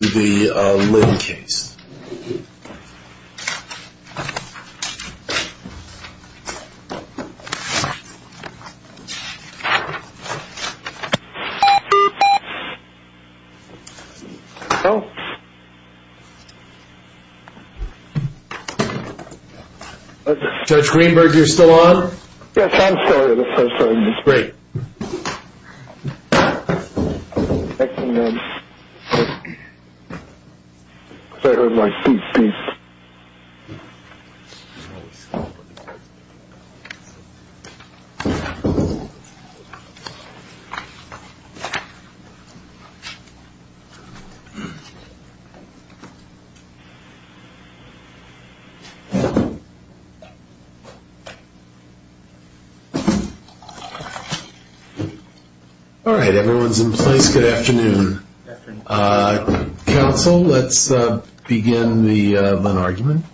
I'm going to go ahead and open up the Lynn case. Judge Greenberg, you're still on? Yes, I'm sorry. I'm so sorry. It's great. Thank you, Judge. Could I have my seat, please? Thank you. All right, everyone's in place. Good afternoon. Good afternoon. Counsel, let's begin the Lynn argument.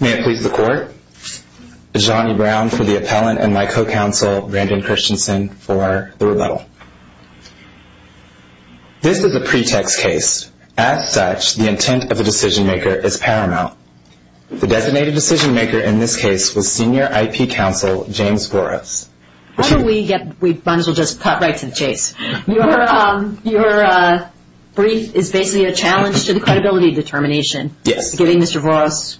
May it please the Court, Ajani Brown for the appellant and my co-counsel, Brandon Christensen, for the rebuttal. This is a pretext case. As such, the intent of the decision-maker is paramount. The designated decision-maker in this case was Senior IP Counsel James Voros. How do we get – we might as well just cut right to the chase. Your brief is basically a challenge to the credibility determination. Yes. Giving Mr. Voros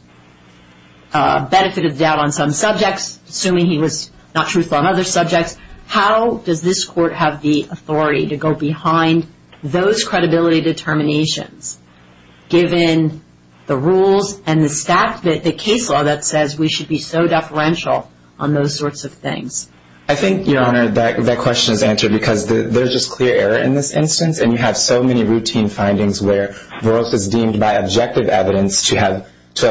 benefit of the doubt on some subjects, assuming he was not truthful on other subjects. How does this Court have the authority to go behind those credibility determinations, given the rules and the case law that says we should be so deferential on those sorts of things? I think, Your Honor, that question is answered because there's just clear error in this instance, and you have so many routine findings where Voros is deemed by objective evidence to have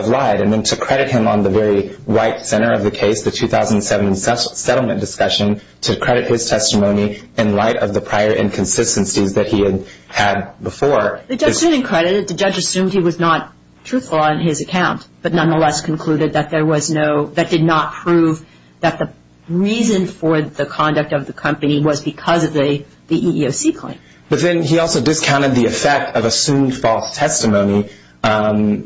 lied. And then to credit him on the very white center of the case, the 2007 settlement discussion, to credit his testimony in light of the prior inconsistencies that he had had before. The judge assumed he was not truthful on his account, but nonetheless concluded that there was no – that did not prove that the reason for the conduct of the company was because of the EEOC claim. But then he also discounted the effect of assumed false testimony,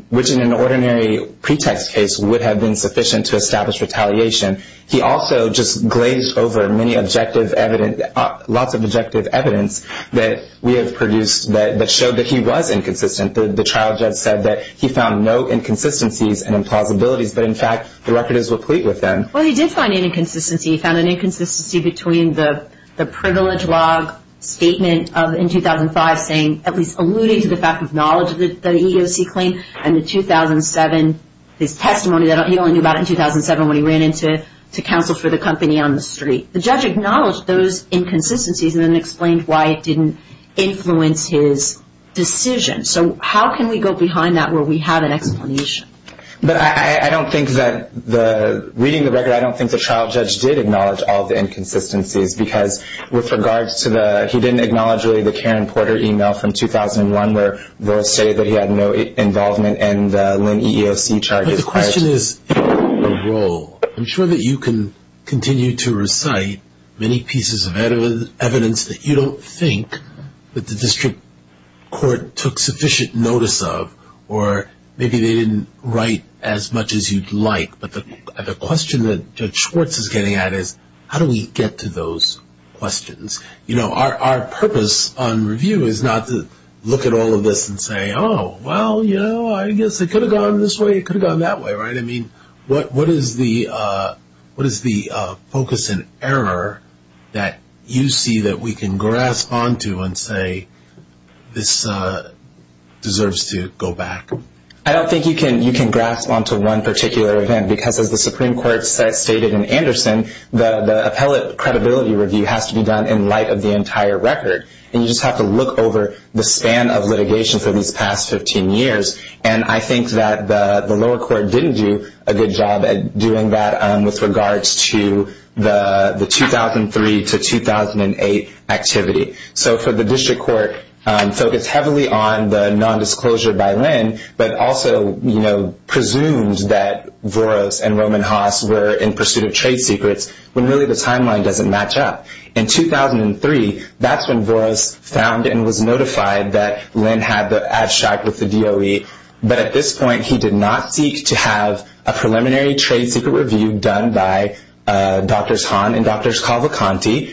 which in an ordinary pretext case would have been sufficient to establish retaliation. He also just glazed over many objective evidence – lots of objective evidence that we have produced that showed that he was inconsistent. The trial judge said that he found no inconsistencies and implausibilities, but in fact the record is complete with them. Well, he did find an inconsistency. He found an inconsistency between the privilege log statement in 2005 saying – the EEOC claim and the 2007 – his testimony that he only knew about in 2007 when he ran into counsel for the company on the street. The judge acknowledged those inconsistencies and then explained why it didn't influence his decision. So how can we go behind that where we have an explanation? But I don't think that the – reading the record, I don't think the trial judge did acknowledge all the inconsistencies because with regards to the – he didn't acknowledge really the Karen Porter email from 2001 where they'll say that he had no involvement in the Lynn EEOC charges. But the question is in what role? I'm sure that you can continue to recite many pieces of evidence that you don't think that the district court took sufficient notice of or maybe they didn't write as much as you'd like, but the question that Judge Schwartz is getting at is how do we get to those questions? You know, our purpose on review is not to look at all of this and say, oh, well, you know, I guess it could have gone this way, it could have gone that way, right? I mean, what is the focus and error that you see that we can grasp onto and say this deserves to go back? I don't think you can grasp onto one particular event because as the Supreme Court stated in Anderson, I mean, the appellate credibility review has to be done in light of the entire record, and you just have to look over the span of litigation for these past 15 years, and I think that the lower court didn't do a good job at doing that with regards to the 2003 to 2008 activity. So for the district court focused heavily on the nondisclosure by Lynn but also, you know, presumed that Voros and Roman Haas were in pursuit of trade secrets when really the timeline doesn't match up. In 2003, that's when Voros found and was notified that Lynn had the abstract with the DOE, but at this point he did not seek to have a preliminary trade secret review done by Drs. Hahn and Drs. Calvacanti,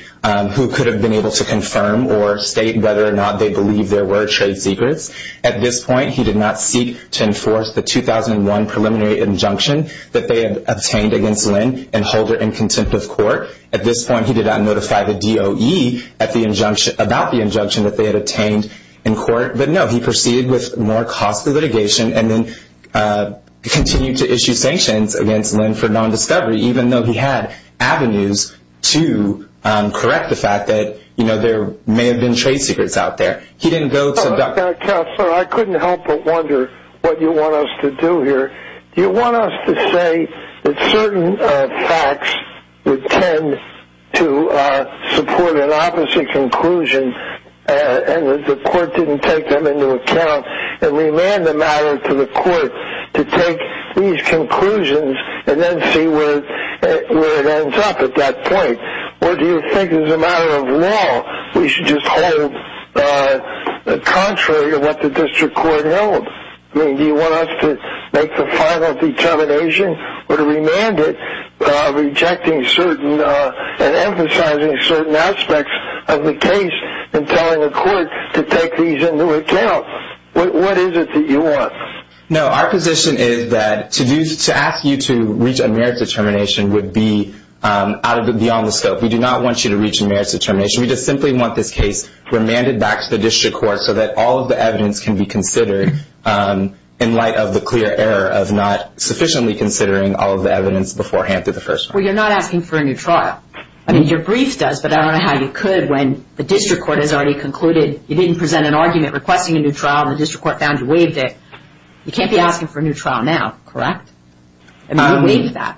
who could have been able to confirm or state whether or not they believed there were trade secrets. At this point, he did not seek to enforce the 2001 preliminary injunction that they had obtained against Lynn and hold her in contempt of court. At this point, he did not notify the DOE about the injunction that they had obtained in court. But no, he proceeded with more costly litigation and then continued to issue sanctions against Lynn for nondiscovery, even though he had avenues to correct the fact that, you know, there may have been trade secrets out there. Counselor, I couldn't help but wonder what you want us to do here. Do you want us to say that certain facts would tend to support an opposite conclusion and that the court didn't take them into account and remand the matter to the court to take these conclusions and then see where it ends up at that point? Or do you think as a matter of law, we should just hold contrary to what the district court held? I mean, do you want us to make the final determination or to remand it, rejecting certain and emphasizing certain aspects of the case and telling the court to take these into account? What is it that you want? No, our position is that to ask you to reach a merit determination would be beyond the scope. We do not want you to reach a merit determination. We just simply want this case remanded back to the district court so that all of the evidence can be considered in light of the clear error of not sufficiently considering all of the evidence beforehand through the first trial. Well, you're not asking for a new trial. I mean, your brief does, but I don't know how you could when the district court has already concluded you didn't present an argument requesting a new trial and the district court found you waived it. You can't be asking for a new trial now, correct? I mean, you waived that.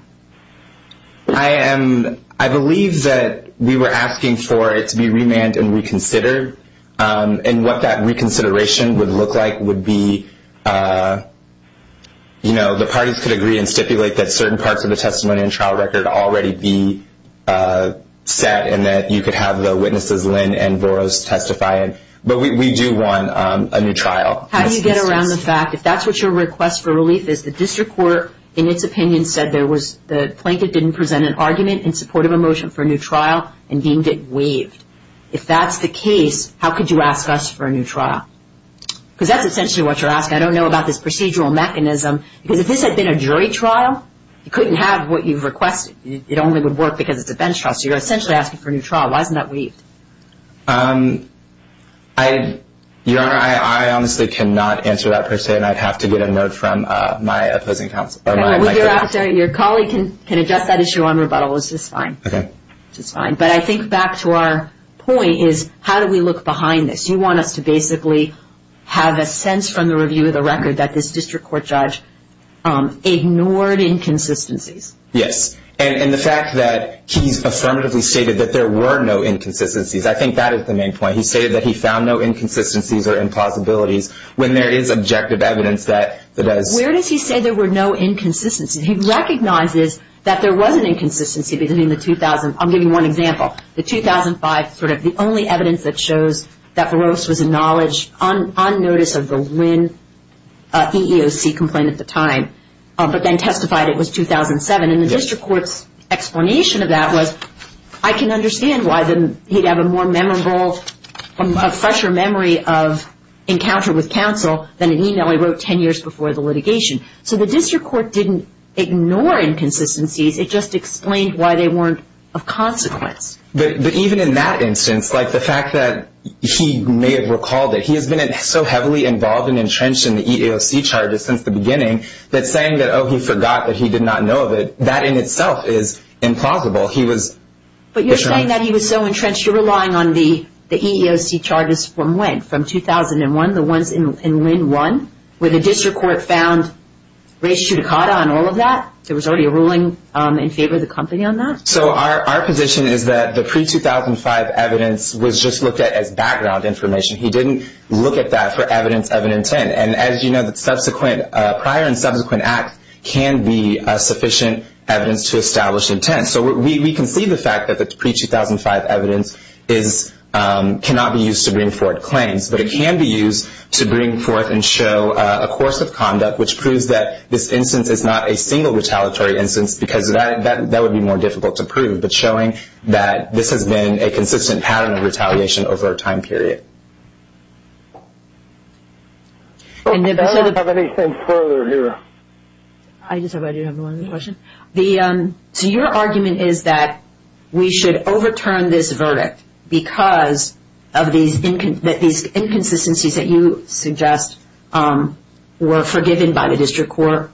I believe that we were asking for it to be remanded and reconsidered, and what that reconsideration would look like would be, you know, the parties could agree and stipulate that certain parts of the testimony and trial record already be set and that you could have the witnesses, Lynn and Voros, testify. But we do want a new trial. How do you get around the fact, if that's what your request for relief is, the district court, in its opinion, said the plaintiff didn't present an argument in support of a motion for a new trial and deemed it waived? If that's the case, how could you ask us for a new trial? Because that's essentially what you're asking. I don't know about this procedural mechanism, because if this had been a jury trial, you couldn't have what you've requested. It only would work because it's a bench trial. So you're essentially asking for a new trial. Your Honor, I honestly cannot answer that per se, and I'd have to get a note from my opposing counsel. Your colleague can address that issue on rebuttal, which is fine. Okay. Which is fine. But I think back to our point is, how do we look behind this? You want us to basically have a sense from the review of the record that this district court judge ignored inconsistencies. Yes. And the fact that he's affirmatively stated that there were no inconsistencies, I think that is the main point. He stated that he found no inconsistencies or impossibilities. When there is objective evidence that does. Where does he say there were no inconsistencies? He recognizes that there was an inconsistency between the 2000. I'll give you one example. The 2005, sort of the only evidence that shows that Varose was acknowledged on notice of the Wynn EEOC complaint at the time, but then testified it was 2007. And the district court's explanation of that was, I can understand why he'd have a more memorable, a fresher memory of encounter with counsel than an email he wrote 10 years before the litigation. So the district court didn't ignore inconsistencies. It just explained why they weren't of consequence. But even in that instance, like the fact that he may have recalled it, he has been so heavily involved and entrenched in the EEOC charges since the beginning that saying that, oh, he forgot that he did not know of it, that in itself is implausible. But you're saying that he was so entrenched, you're relying on the EEOC charges from when? From 2001, the ones in Wynn 1, where the district court found race judicata and all of that? There was already a ruling in favor of the company on that? So our position is that the pre-2005 evidence was just looked at as background information. He didn't look at that for evidence of an intent. And as you know, prior and subsequent acts can be sufficient evidence to establish intent. So we can see the fact that the pre-2005 evidence cannot be used to bring forth claims, but it can be used to bring forth and show a course of conduct which proves that this instance is not a single retaliatory instance because that would be more difficult to prove, but showing that this has been a consistent pattern of retaliation over a time period. Do I have anything further here? I just have one other question. So your argument is that we should overturn this verdict because of these inconsistencies that you suggest were forgiven by the district court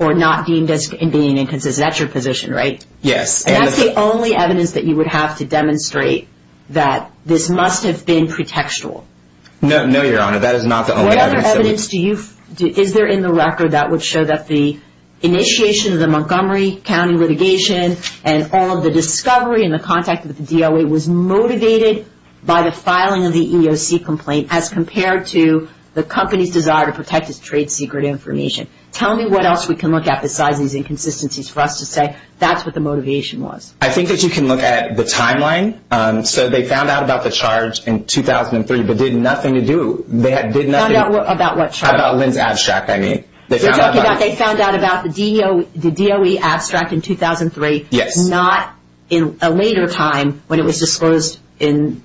or not deemed as being inconsistent. That's your position, right? Yes. And that's the only evidence that you would have to demonstrate that this must have been pretextual. No, Your Honor. That is not the only evidence. Is there in the record that would show that the initiation of the Montgomery County litigation and all of the discovery and the contact with the DOA was motivated by the filing of the EEOC complaint as compared to the company's desire to protect its trade secret information? Tell me what else we can look at besides these inconsistencies for us to say that's what the motivation was. I think that you can look at the timeline. So they found out about the charge in 2003 but did nothing to do. They found out about what charge? About Lynn's abstract, I mean. They found out about the DOE abstract in 2003. Yes. Not in a later time when it was disclosed in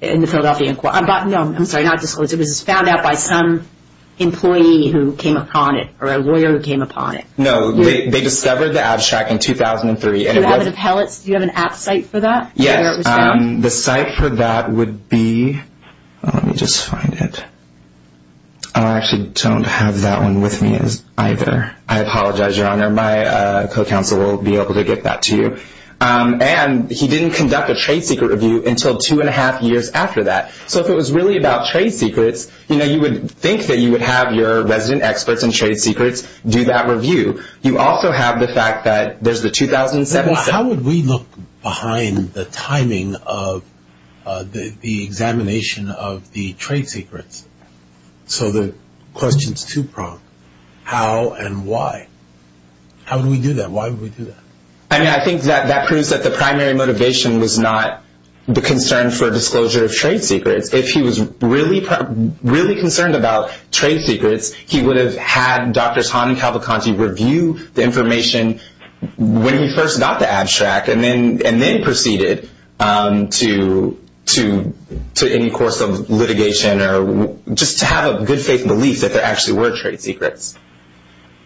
the Philadelphia Inquiry. No, I'm sorry, not disclosed. It was found out by some employee who came upon it or a lawyer who came upon it. No, they discovered the abstract in 2003. Do you have an app site for that? Yes. The site for that would be, let me just find it. I actually don't have that one with me either. I apologize, Your Honor. My co-counsel will be able to get that to you. And he didn't conduct a trade secret review until two and a half years after that. So if it was really about trade secrets, you know, you would think that you would have your resident experts in trade secrets do that review. You also have the fact that there's the 2007. How would we look behind the timing of the examination of the trade secrets? So the question's two-pronged. How and why? How would we do that? Why would we do that? I mean, I think that proves that the primary motivation was not the concern for disclosure of trade secrets. If he was really concerned about trade secrets, he would have had Drs. Hahn and Cavalcanti review the information when he first got the abstract and then proceeded to any course of litigation or just to have a good faith belief that there actually were trade secrets.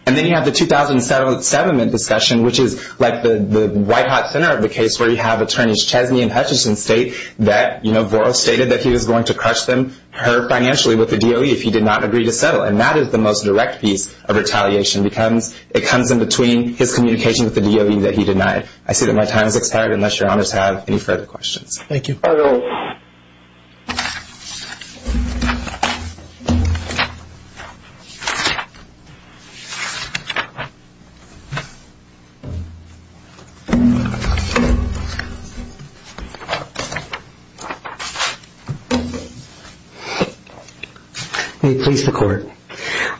And then you have the 2007 discussion, which is like the white-hot center of the case where you have Attorneys Chesney and Hutchison state that, you know, Voros stated that he was going to crush them, her financially, with the DOE if he did not agree to settle. And that is the most direct piece of retaliation. It comes in between his communication with the DOE that he denied. I see that my time has expired, unless Your Honors have any further questions. Thank you. Thank you. May it please the Court.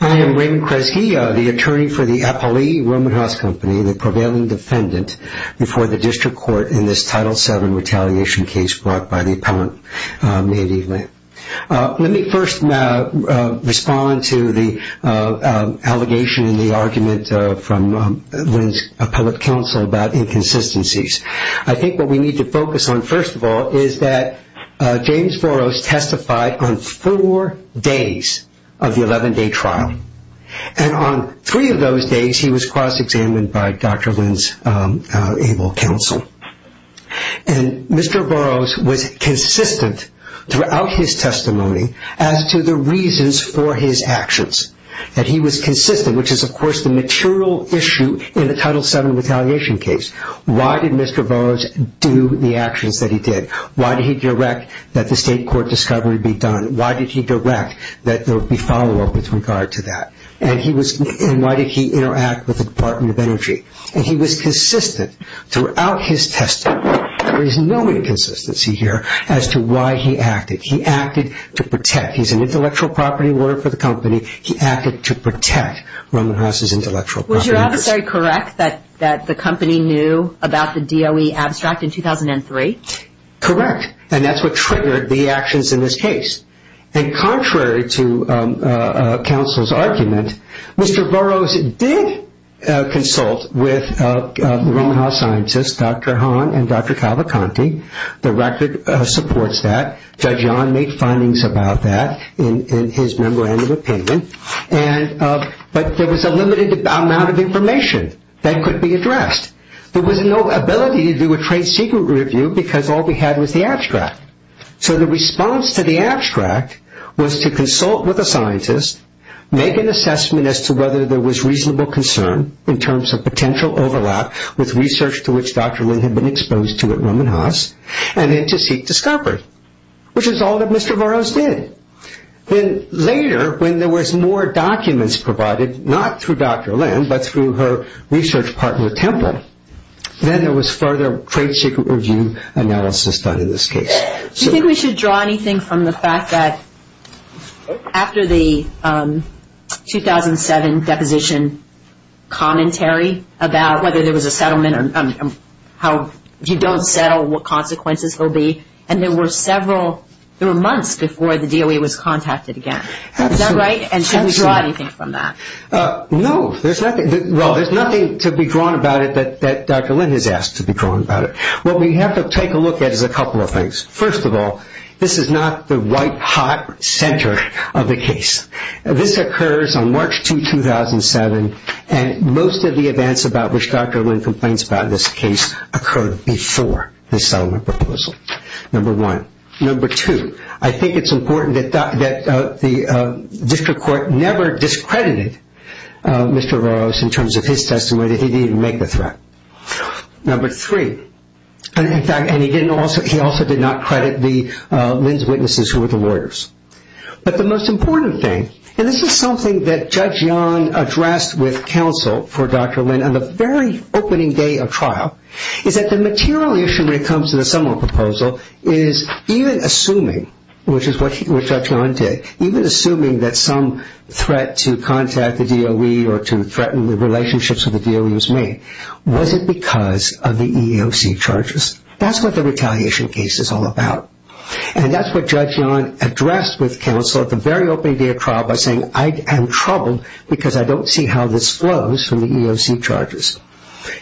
I am Raymond Kresge, the attorney for the Apolli Roman House Company, the prevailing defendant before the district court in this Title VII retaliation case brought by the appellant. Let me first respond to the allegation in the argument from Lynn's appellate counsel about inconsistencies. I think what we need to focus on, first of all, is that James Voros testified on four days of the 11-day trial. And on three of those days, he was cross-examined by Dr. Lynn's able counsel. And Mr. Voros was consistent throughout his testimony as to the reasons for his actions, that he was consistent, which is, of course, the material issue in the Title VII retaliation case. Why did Mr. Voros do the actions that he did? Why did he direct that the state court discovery be done? Why did he direct that there would be follow-up with regard to that? And why did he interact with the Department of Energy? And he was consistent throughout his testimony. There is no inconsistency here as to why he acted. He acted to protect. He's an intellectual property lawyer for the company. He acted to protect Roman House's intellectual property. Was your adversary correct that the company knew about the DOE abstract in 2003? Correct. And that's what triggered the actions in this case. And contrary to counsel's argument, Mr. Voros did consult with the Roman House scientists, Dr. Hahn and Dr. Cavacanti. The record supports that. Judge Yahn made findings about that in his memorandum of opinion. But there was a limited amount of information that could be addressed. There was no ability to do a trade secret review because all we had was the abstract. So the response to the abstract was to consult with a scientist, make an assessment as to whether there was reasonable concern in terms of potential overlap with research to which Dr. Lynn had been exposed to at Roman House, and then to seek discovery, which is all that Mr. Voros did. Then later, when there was more documents provided, not through Dr. Lynn, but through her research partner, Temple, then there was further trade secret review analysis done in this case. Do you think we should draw anything from the fact that after the 2007 deposition commentary about whether there was a settlement or how if you don't settle, what consequences will be? And there were several, there were months before the DOE was contacted again. Is that right? Absolutely. And should we draw anything from that? No, there's nothing. Well, there's nothing to be drawn about it that Dr. Lynn has asked to be drawn about it. What we have to take a look at is a couple of things. First of all, this is not the white-hot center of the case. This occurs on March 2, 2007, and most of the events about which Dr. Lynn complains about in this case occurred before the settlement proposal, number one. Number two, I think it's important that the district court never discredited Mr. Rose in terms of his testimony that he didn't make the threat. Number three, and he also did not credit Lynn's witnesses who were the lawyers. But the most important thing, and this is something that Judge Yon addressed with counsel for Dr. Lynn on the very opening day of trial, is that the material issue when it comes to the settlement proposal is even assuming, which is what Judge Yon did, even assuming that some threat to contact the DOE or to threaten the relationships with the DOE was made, was it because of the EEOC charges? That's what the retaliation case is all about. And that's what Judge Yon addressed with counsel at the very opening day of trial by saying, I am troubled because I don't see how this flows from the EEOC charges.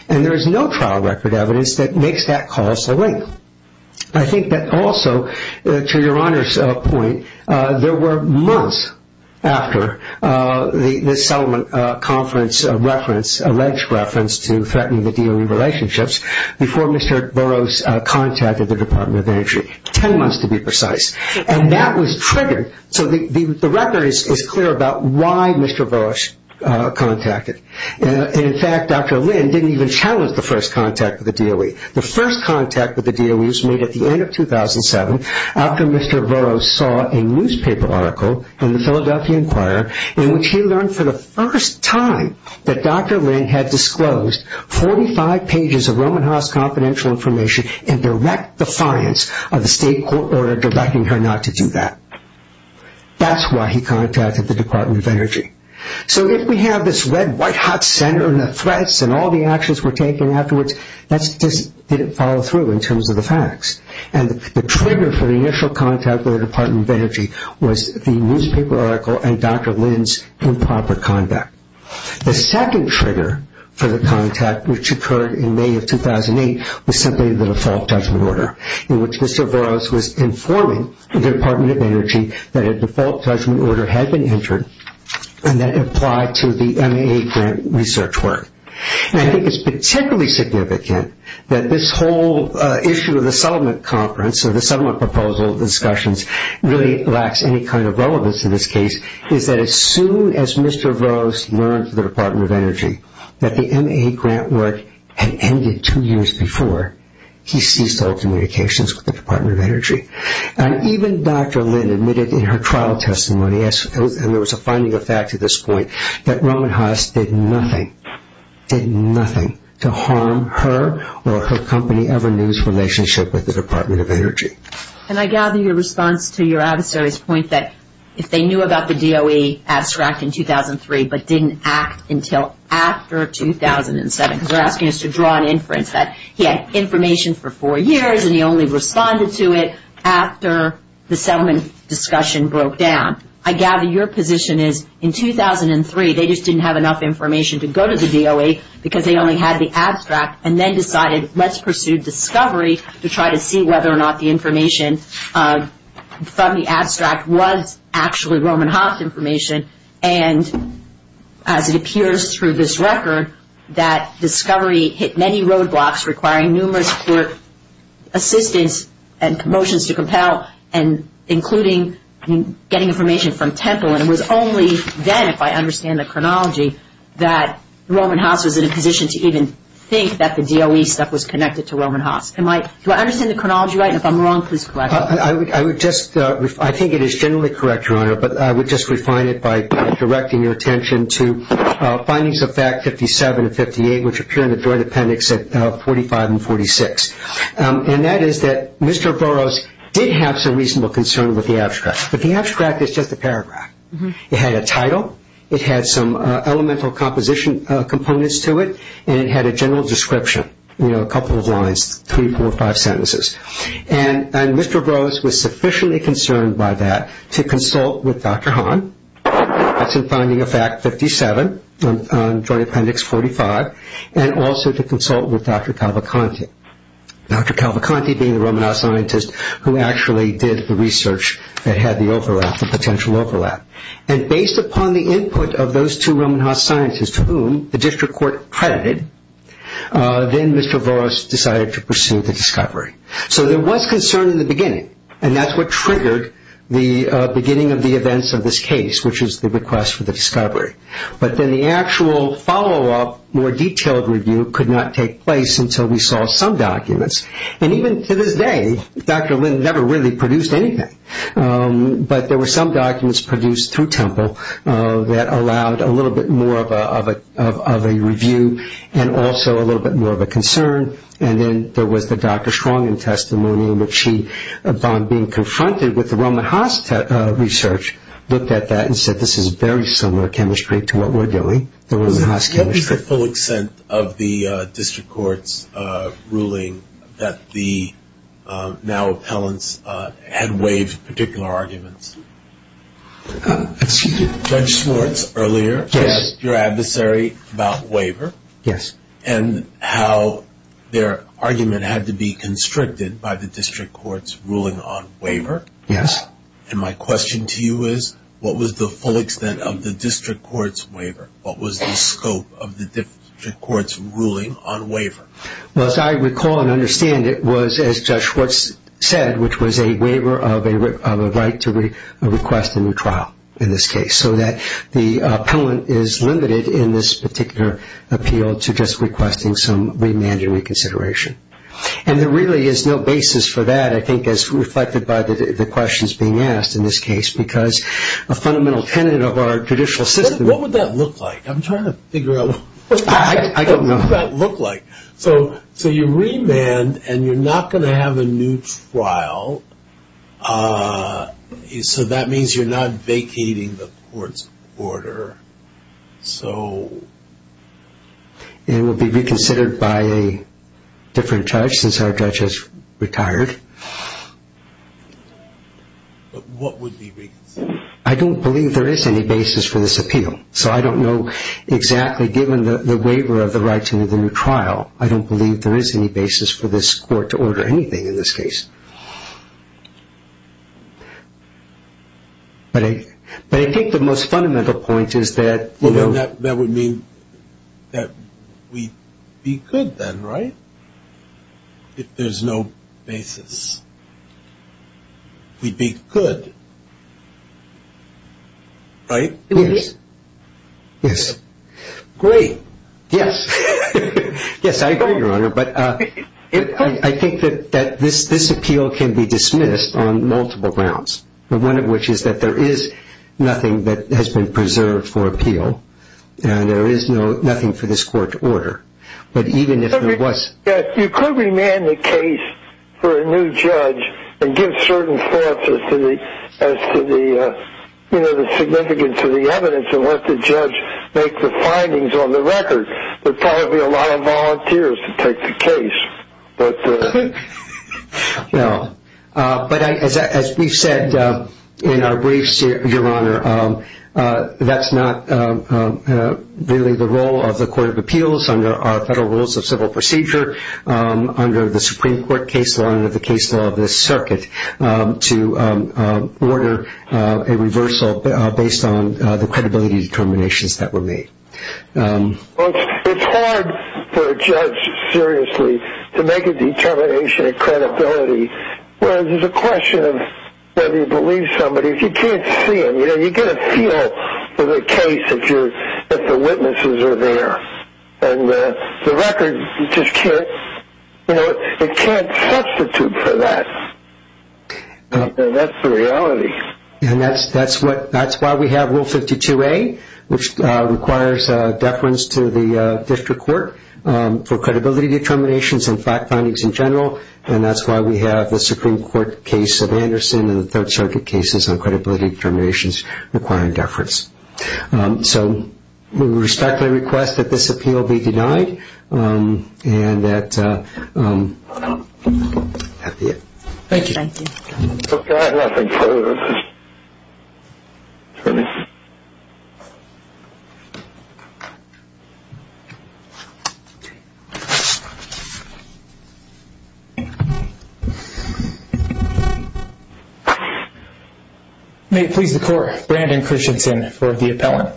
And there is no trial record evidence that makes that call so late. I think that also, to Your Honor's point, there were months after the settlement conference reference, a lynch reference to threatening the DOE relationships, before Mr. Burroughs contacted the Department of Injury, ten months to be precise. And that was triggered. So the record is clear about why Mr. Burroughs contacted. In fact, Dr. Lynn didn't even challenge the first contact with the DOE. The first contact with the DOE was made at the end of 2007, after Mr. Burroughs saw a newspaper article in the Philadelphia Inquirer in which he learned for the first time that Dr. Lynn had disclosed 45 pages of Roman Haas confidential information in direct defiance of the state court order directing her not to do that. That's why he contacted the Department of Energy. So if we have this red-white hot center and the threats and all the actions we're taking afterwards, that just didn't follow through in terms of the facts. And the trigger for the initial contact with the Department of Energy was the newspaper article and Dr. Lynn's improper conduct. The second trigger for the contact, which occurred in May of 2008, was simply the default judgment order, that a default judgment order had been entered and that it applied to the MAE grant research work. And I think it's particularly significant that this whole issue of the settlement conference or the settlement proposal discussions really lacks any kind of relevance in this case, is that as soon as Mr. Burroughs learned from the Department of Energy that the MAE grant work had ended two years before, he ceased all communications with the Department of Energy. And even Dr. Lynn admitted in her trial testimony, and there was a finding of fact at this point, that Roman Haas did nothing, did nothing, to harm her or her company ever news relationship with the Department of Energy. And I gather your response to your adversary's point that if they knew about the DOE abstract in 2003 but didn't act until after 2007, because they're asking us to draw an inference that he had information for four years and he only responded to it after the settlement discussion broke down. I gather your position is in 2003 they just didn't have enough information to go to the DOE because they only had the abstract and then decided let's pursue discovery to try to see whether or not the information from the abstract was actually Roman Haas information. And as it appears through this record, that discovery hit many roadblocks requiring numerous assistance and motions to compel and including getting information from Temple. And it was only then, if I understand the chronology, that Roman Haas was in a position to even think that the DOE stuff was connected to Roman Haas. Do I understand the chronology right? And if I'm wrong, please correct me. I think it is generally correct, Your Honor, but I would just refine it by directing your attention to findings of fact 57 and 58, which appear in the joint appendix at 45 and 46. And that is that Mr. Burroughs did have some reasonable concern with the abstract, but the abstract is just a paragraph. It had a title, it had some elemental composition components to it, and it had a general description, you know, a couple of lines, three, four, five sentences. And Mr. Burroughs was sufficiently concerned by that to consult with Dr. Hahn, that's in finding of fact 57, joint appendix 45, and also to consult with Dr. Calvacanti, Dr. Calvacanti being the Roman Haas scientist who actually did the research that had the overlap, the potential overlap. And based upon the input of those two Roman Haas scientists, to whom the district court credited, then Mr. Burroughs decided to pursue the discovery. So there was concern in the beginning, and that's what triggered the beginning of the events of this case, which is the request for the discovery. But then the actual follow-up, more detailed review could not take place until we saw some documents. And even to this day, Dr. Lynn never really produced anything. But there were some documents produced through Temple that allowed a little bit more of a review and also a little bit more of a concern. And then there was the Dr. Strongen testimony in which she, upon being confronted with the Roman Haas research, looked at that and said, this is very similar chemistry to what we're doing, the Roman Haas chemistry. What was the full extent of the district court's ruling that the now appellants had waived particular arguments? Judge Schwartz earlier asked your adversary about waiver and how their argument had to be constricted by the district court's ruling on waiver. And my question to you is, what was the full extent of the district court's waiver? What was the scope of the district court's ruling on waiver? Well, as I recall and understand it was, as Judge Schwartz said, which was a waiver of a right to request a new trial in this case, so that the appellant is limited in this particular appeal to just requesting some remand and reconsideration. And there really is no basis for that, I think, as reflected by the questions being asked in this case, because a fundamental tenet of our judicial system What would that look like? I'm trying to figure out. I don't know. What would that look like? So you remand and you're not going to have a new trial, so that means you're not vacating the court's order. It would be reconsidered by a different judge since our judge has retired. What would be reconsidered? I don't believe there is any basis for this appeal. So I don't know exactly, given the waiver of the right to the new trial, I don't believe there is any basis for this court to order anything in this case. But I think the most fundamental point is that That would mean that we'd be good then, right, if there's no basis? We'd be good, right? Yes. Yes. Great. Yes. Yes, I agree, Your Honor, but I think that this appeal can be dismissed on multiple grounds, one of which is that there is nothing that has been preserved for appeal and there is nothing for this court to order. Yes, you could remand the case for a new judge and give certain thoughts as to the significance of the evidence and let the judge make the findings on the record. There'd probably be a lot of volunteers to take the case. No, but as we've said in our briefs, Your Honor, that's not really the role of the Court of Appeals under our Federal Rules of Civil Procedure, under the Supreme Court case law and under the case law of this circuit, to order a reversal based on the credibility determinations that were made. It's hard for a judge, seriously, to make a determination of credibility, whereas there's a question of whether you believe somebody. If you can't see it, you get a feel for the case if the witnesses are there, and the record just can't substitute for that. That's the reality. And that's why we have Rule 52A, which requires deference to the district court for credibility determinations and fact findings in general, and that's why we have the Supreme Court case of Anderson and the Third Circuit cases on credibility determinations requiring deference. So we respectfully request that this appeal be denied and that be it. Thank you. Thank you. Okay, I have nothing further. May it please the Court, Brandon Christensen for the appellant.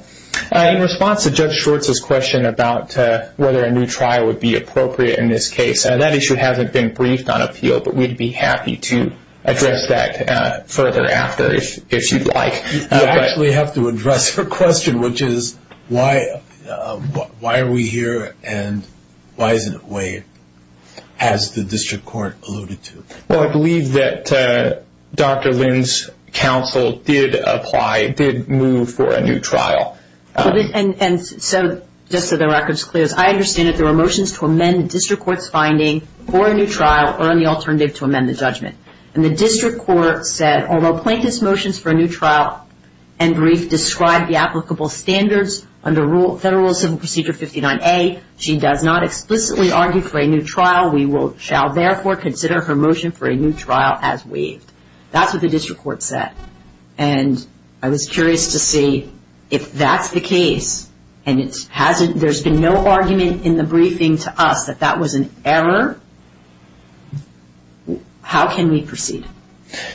In response to Judge Schwartz's question about whether a new trial would be appropriate in this case, that issue hasn't been briefed on appeal, but we'd be happy to address that further after if you'd like. I actually have to address her question, which is why are we here and why isn't it waived as the district court alluded to? Well, I believe that Dr. Lynn's counsel did apply, did move for a new trial. And so just so the record's clear, I understand that there were motions to amend the district court's finding for a new trial or an alternative to amend the judgment. And the district court said, although plaintiff's motions for a new trial and brief describe the applicable standards under Federal Civil Procedure 59A, she does not explicitly argue for a new trial. We shall therefore consider her motion for a new trial as waived. That's what the district court said. And I was curious to see if that's the case and there's been no argument in the briefing to us that that was an error, how can we proceed?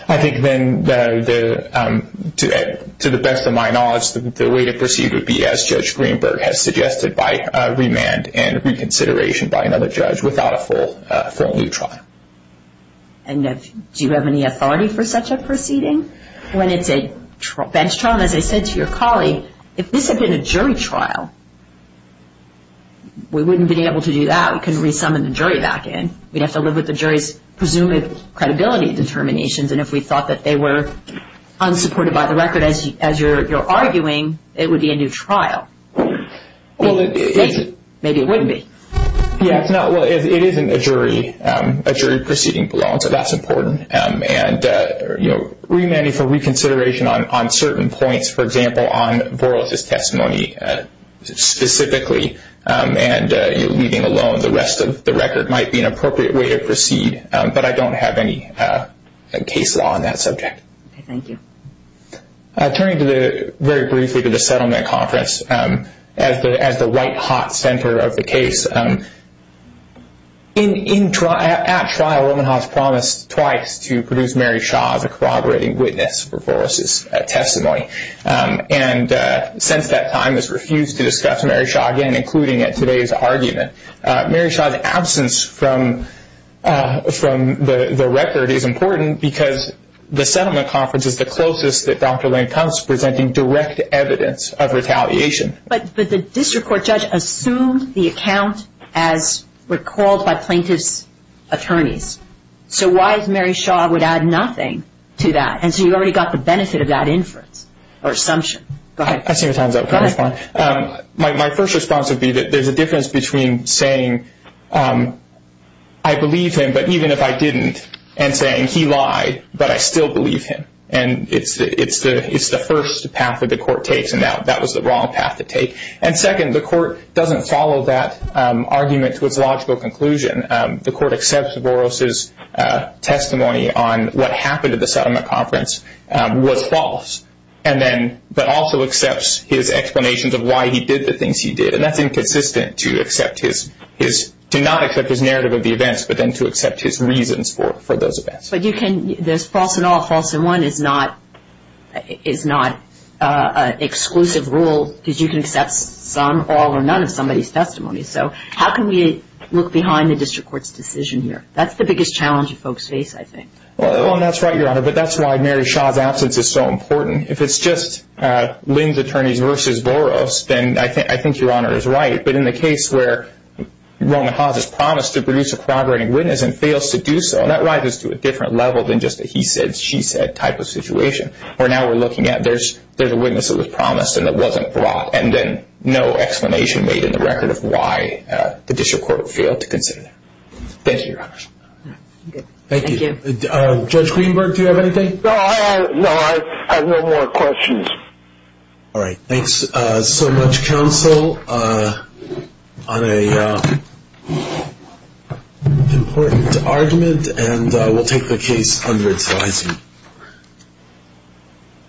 I think then, to the best of my knowledge, the way to proceed would be as Judge Greenberg has suggested, by remand and reconsideration by another judge without a full new trial. And do you have any authority for such a proceeding? When it's a bench trial, as I said to your colleague, if this had been a jury trial, we wouldn't be able to do that. We couldn't resummon the jury back in. We'd have to live with the jury's presumed credibility determinations. And if we thought that they were unsupported by the record, as you're arguing, it would be a new trial. Maybe it wouldn't be. It isn't a jury proceeding below, so that's important. And remanding for reconsideration on certain points, for example on Voros' testimony specifically, and leaving alone the rest of the record might be an appropriate way to proceed, but I don't have any case law on that subject. Thank you. Turning very briefly to the settlement conference, as the right hot center of the case, at trial Omenhaus promised twice to produce Mary Shaw as a corroborating witness for Voros' testimony. And since that time has refused to discuss Mary Shaw again, including at today's argument. Mary Shaw's absence from the record is important because the settlement conference is the closest that Dr. Lane comes to presenting direct evidence of retaliation. But the district court judge assumed the account as recalled by plaintiff's attorneys. So why Mary Shaw would add nothing to that? And so you already got the benefit of that inference or assumption. Go ahead. My first response would be that there's a difference between saying I believe him, but even if I didn't, and saying he lied, but I still believe him. And it's the first path that the court takes, and that was the wrong path to take. And second, the court doesn't follow that argument to its logical conclusion. The court accepts Voros' testimony on what happened at the settlement conference was false, but also accepts his explanations of why he did the things he did. And that's inconsistent to not accept his narrative of the events, but then to accept his reasons for those events. But there's false in all. False in one is not an exclusive rule because you can accept some, all, or none of somebody's testimony. So how can we look behind the district court's decision here? That's the biggest challenge that folks face, I think. Well, that's right, Your Honor, but that's why Mary Shaw's absence is so important. If it's just Lane's attorneys versus Voros, then I think Your Honor is right. But in the case where Rona Haas is promised to produce a corroborating witness and the witness doesn't, fails to do so, that rises to a different level than just a he said, she said type of situation. Where now we're looking at there's a witness that was promised and that wasn't brought, and then no explanation made in the record of why the district court failed to consider that. Thank you, Your Honor. Thank you. Judge Greenberg, do you have anything? No, I have no more questions. All right. Thanks so much, counsel, on an important argument, and we'll take the case under its licensing.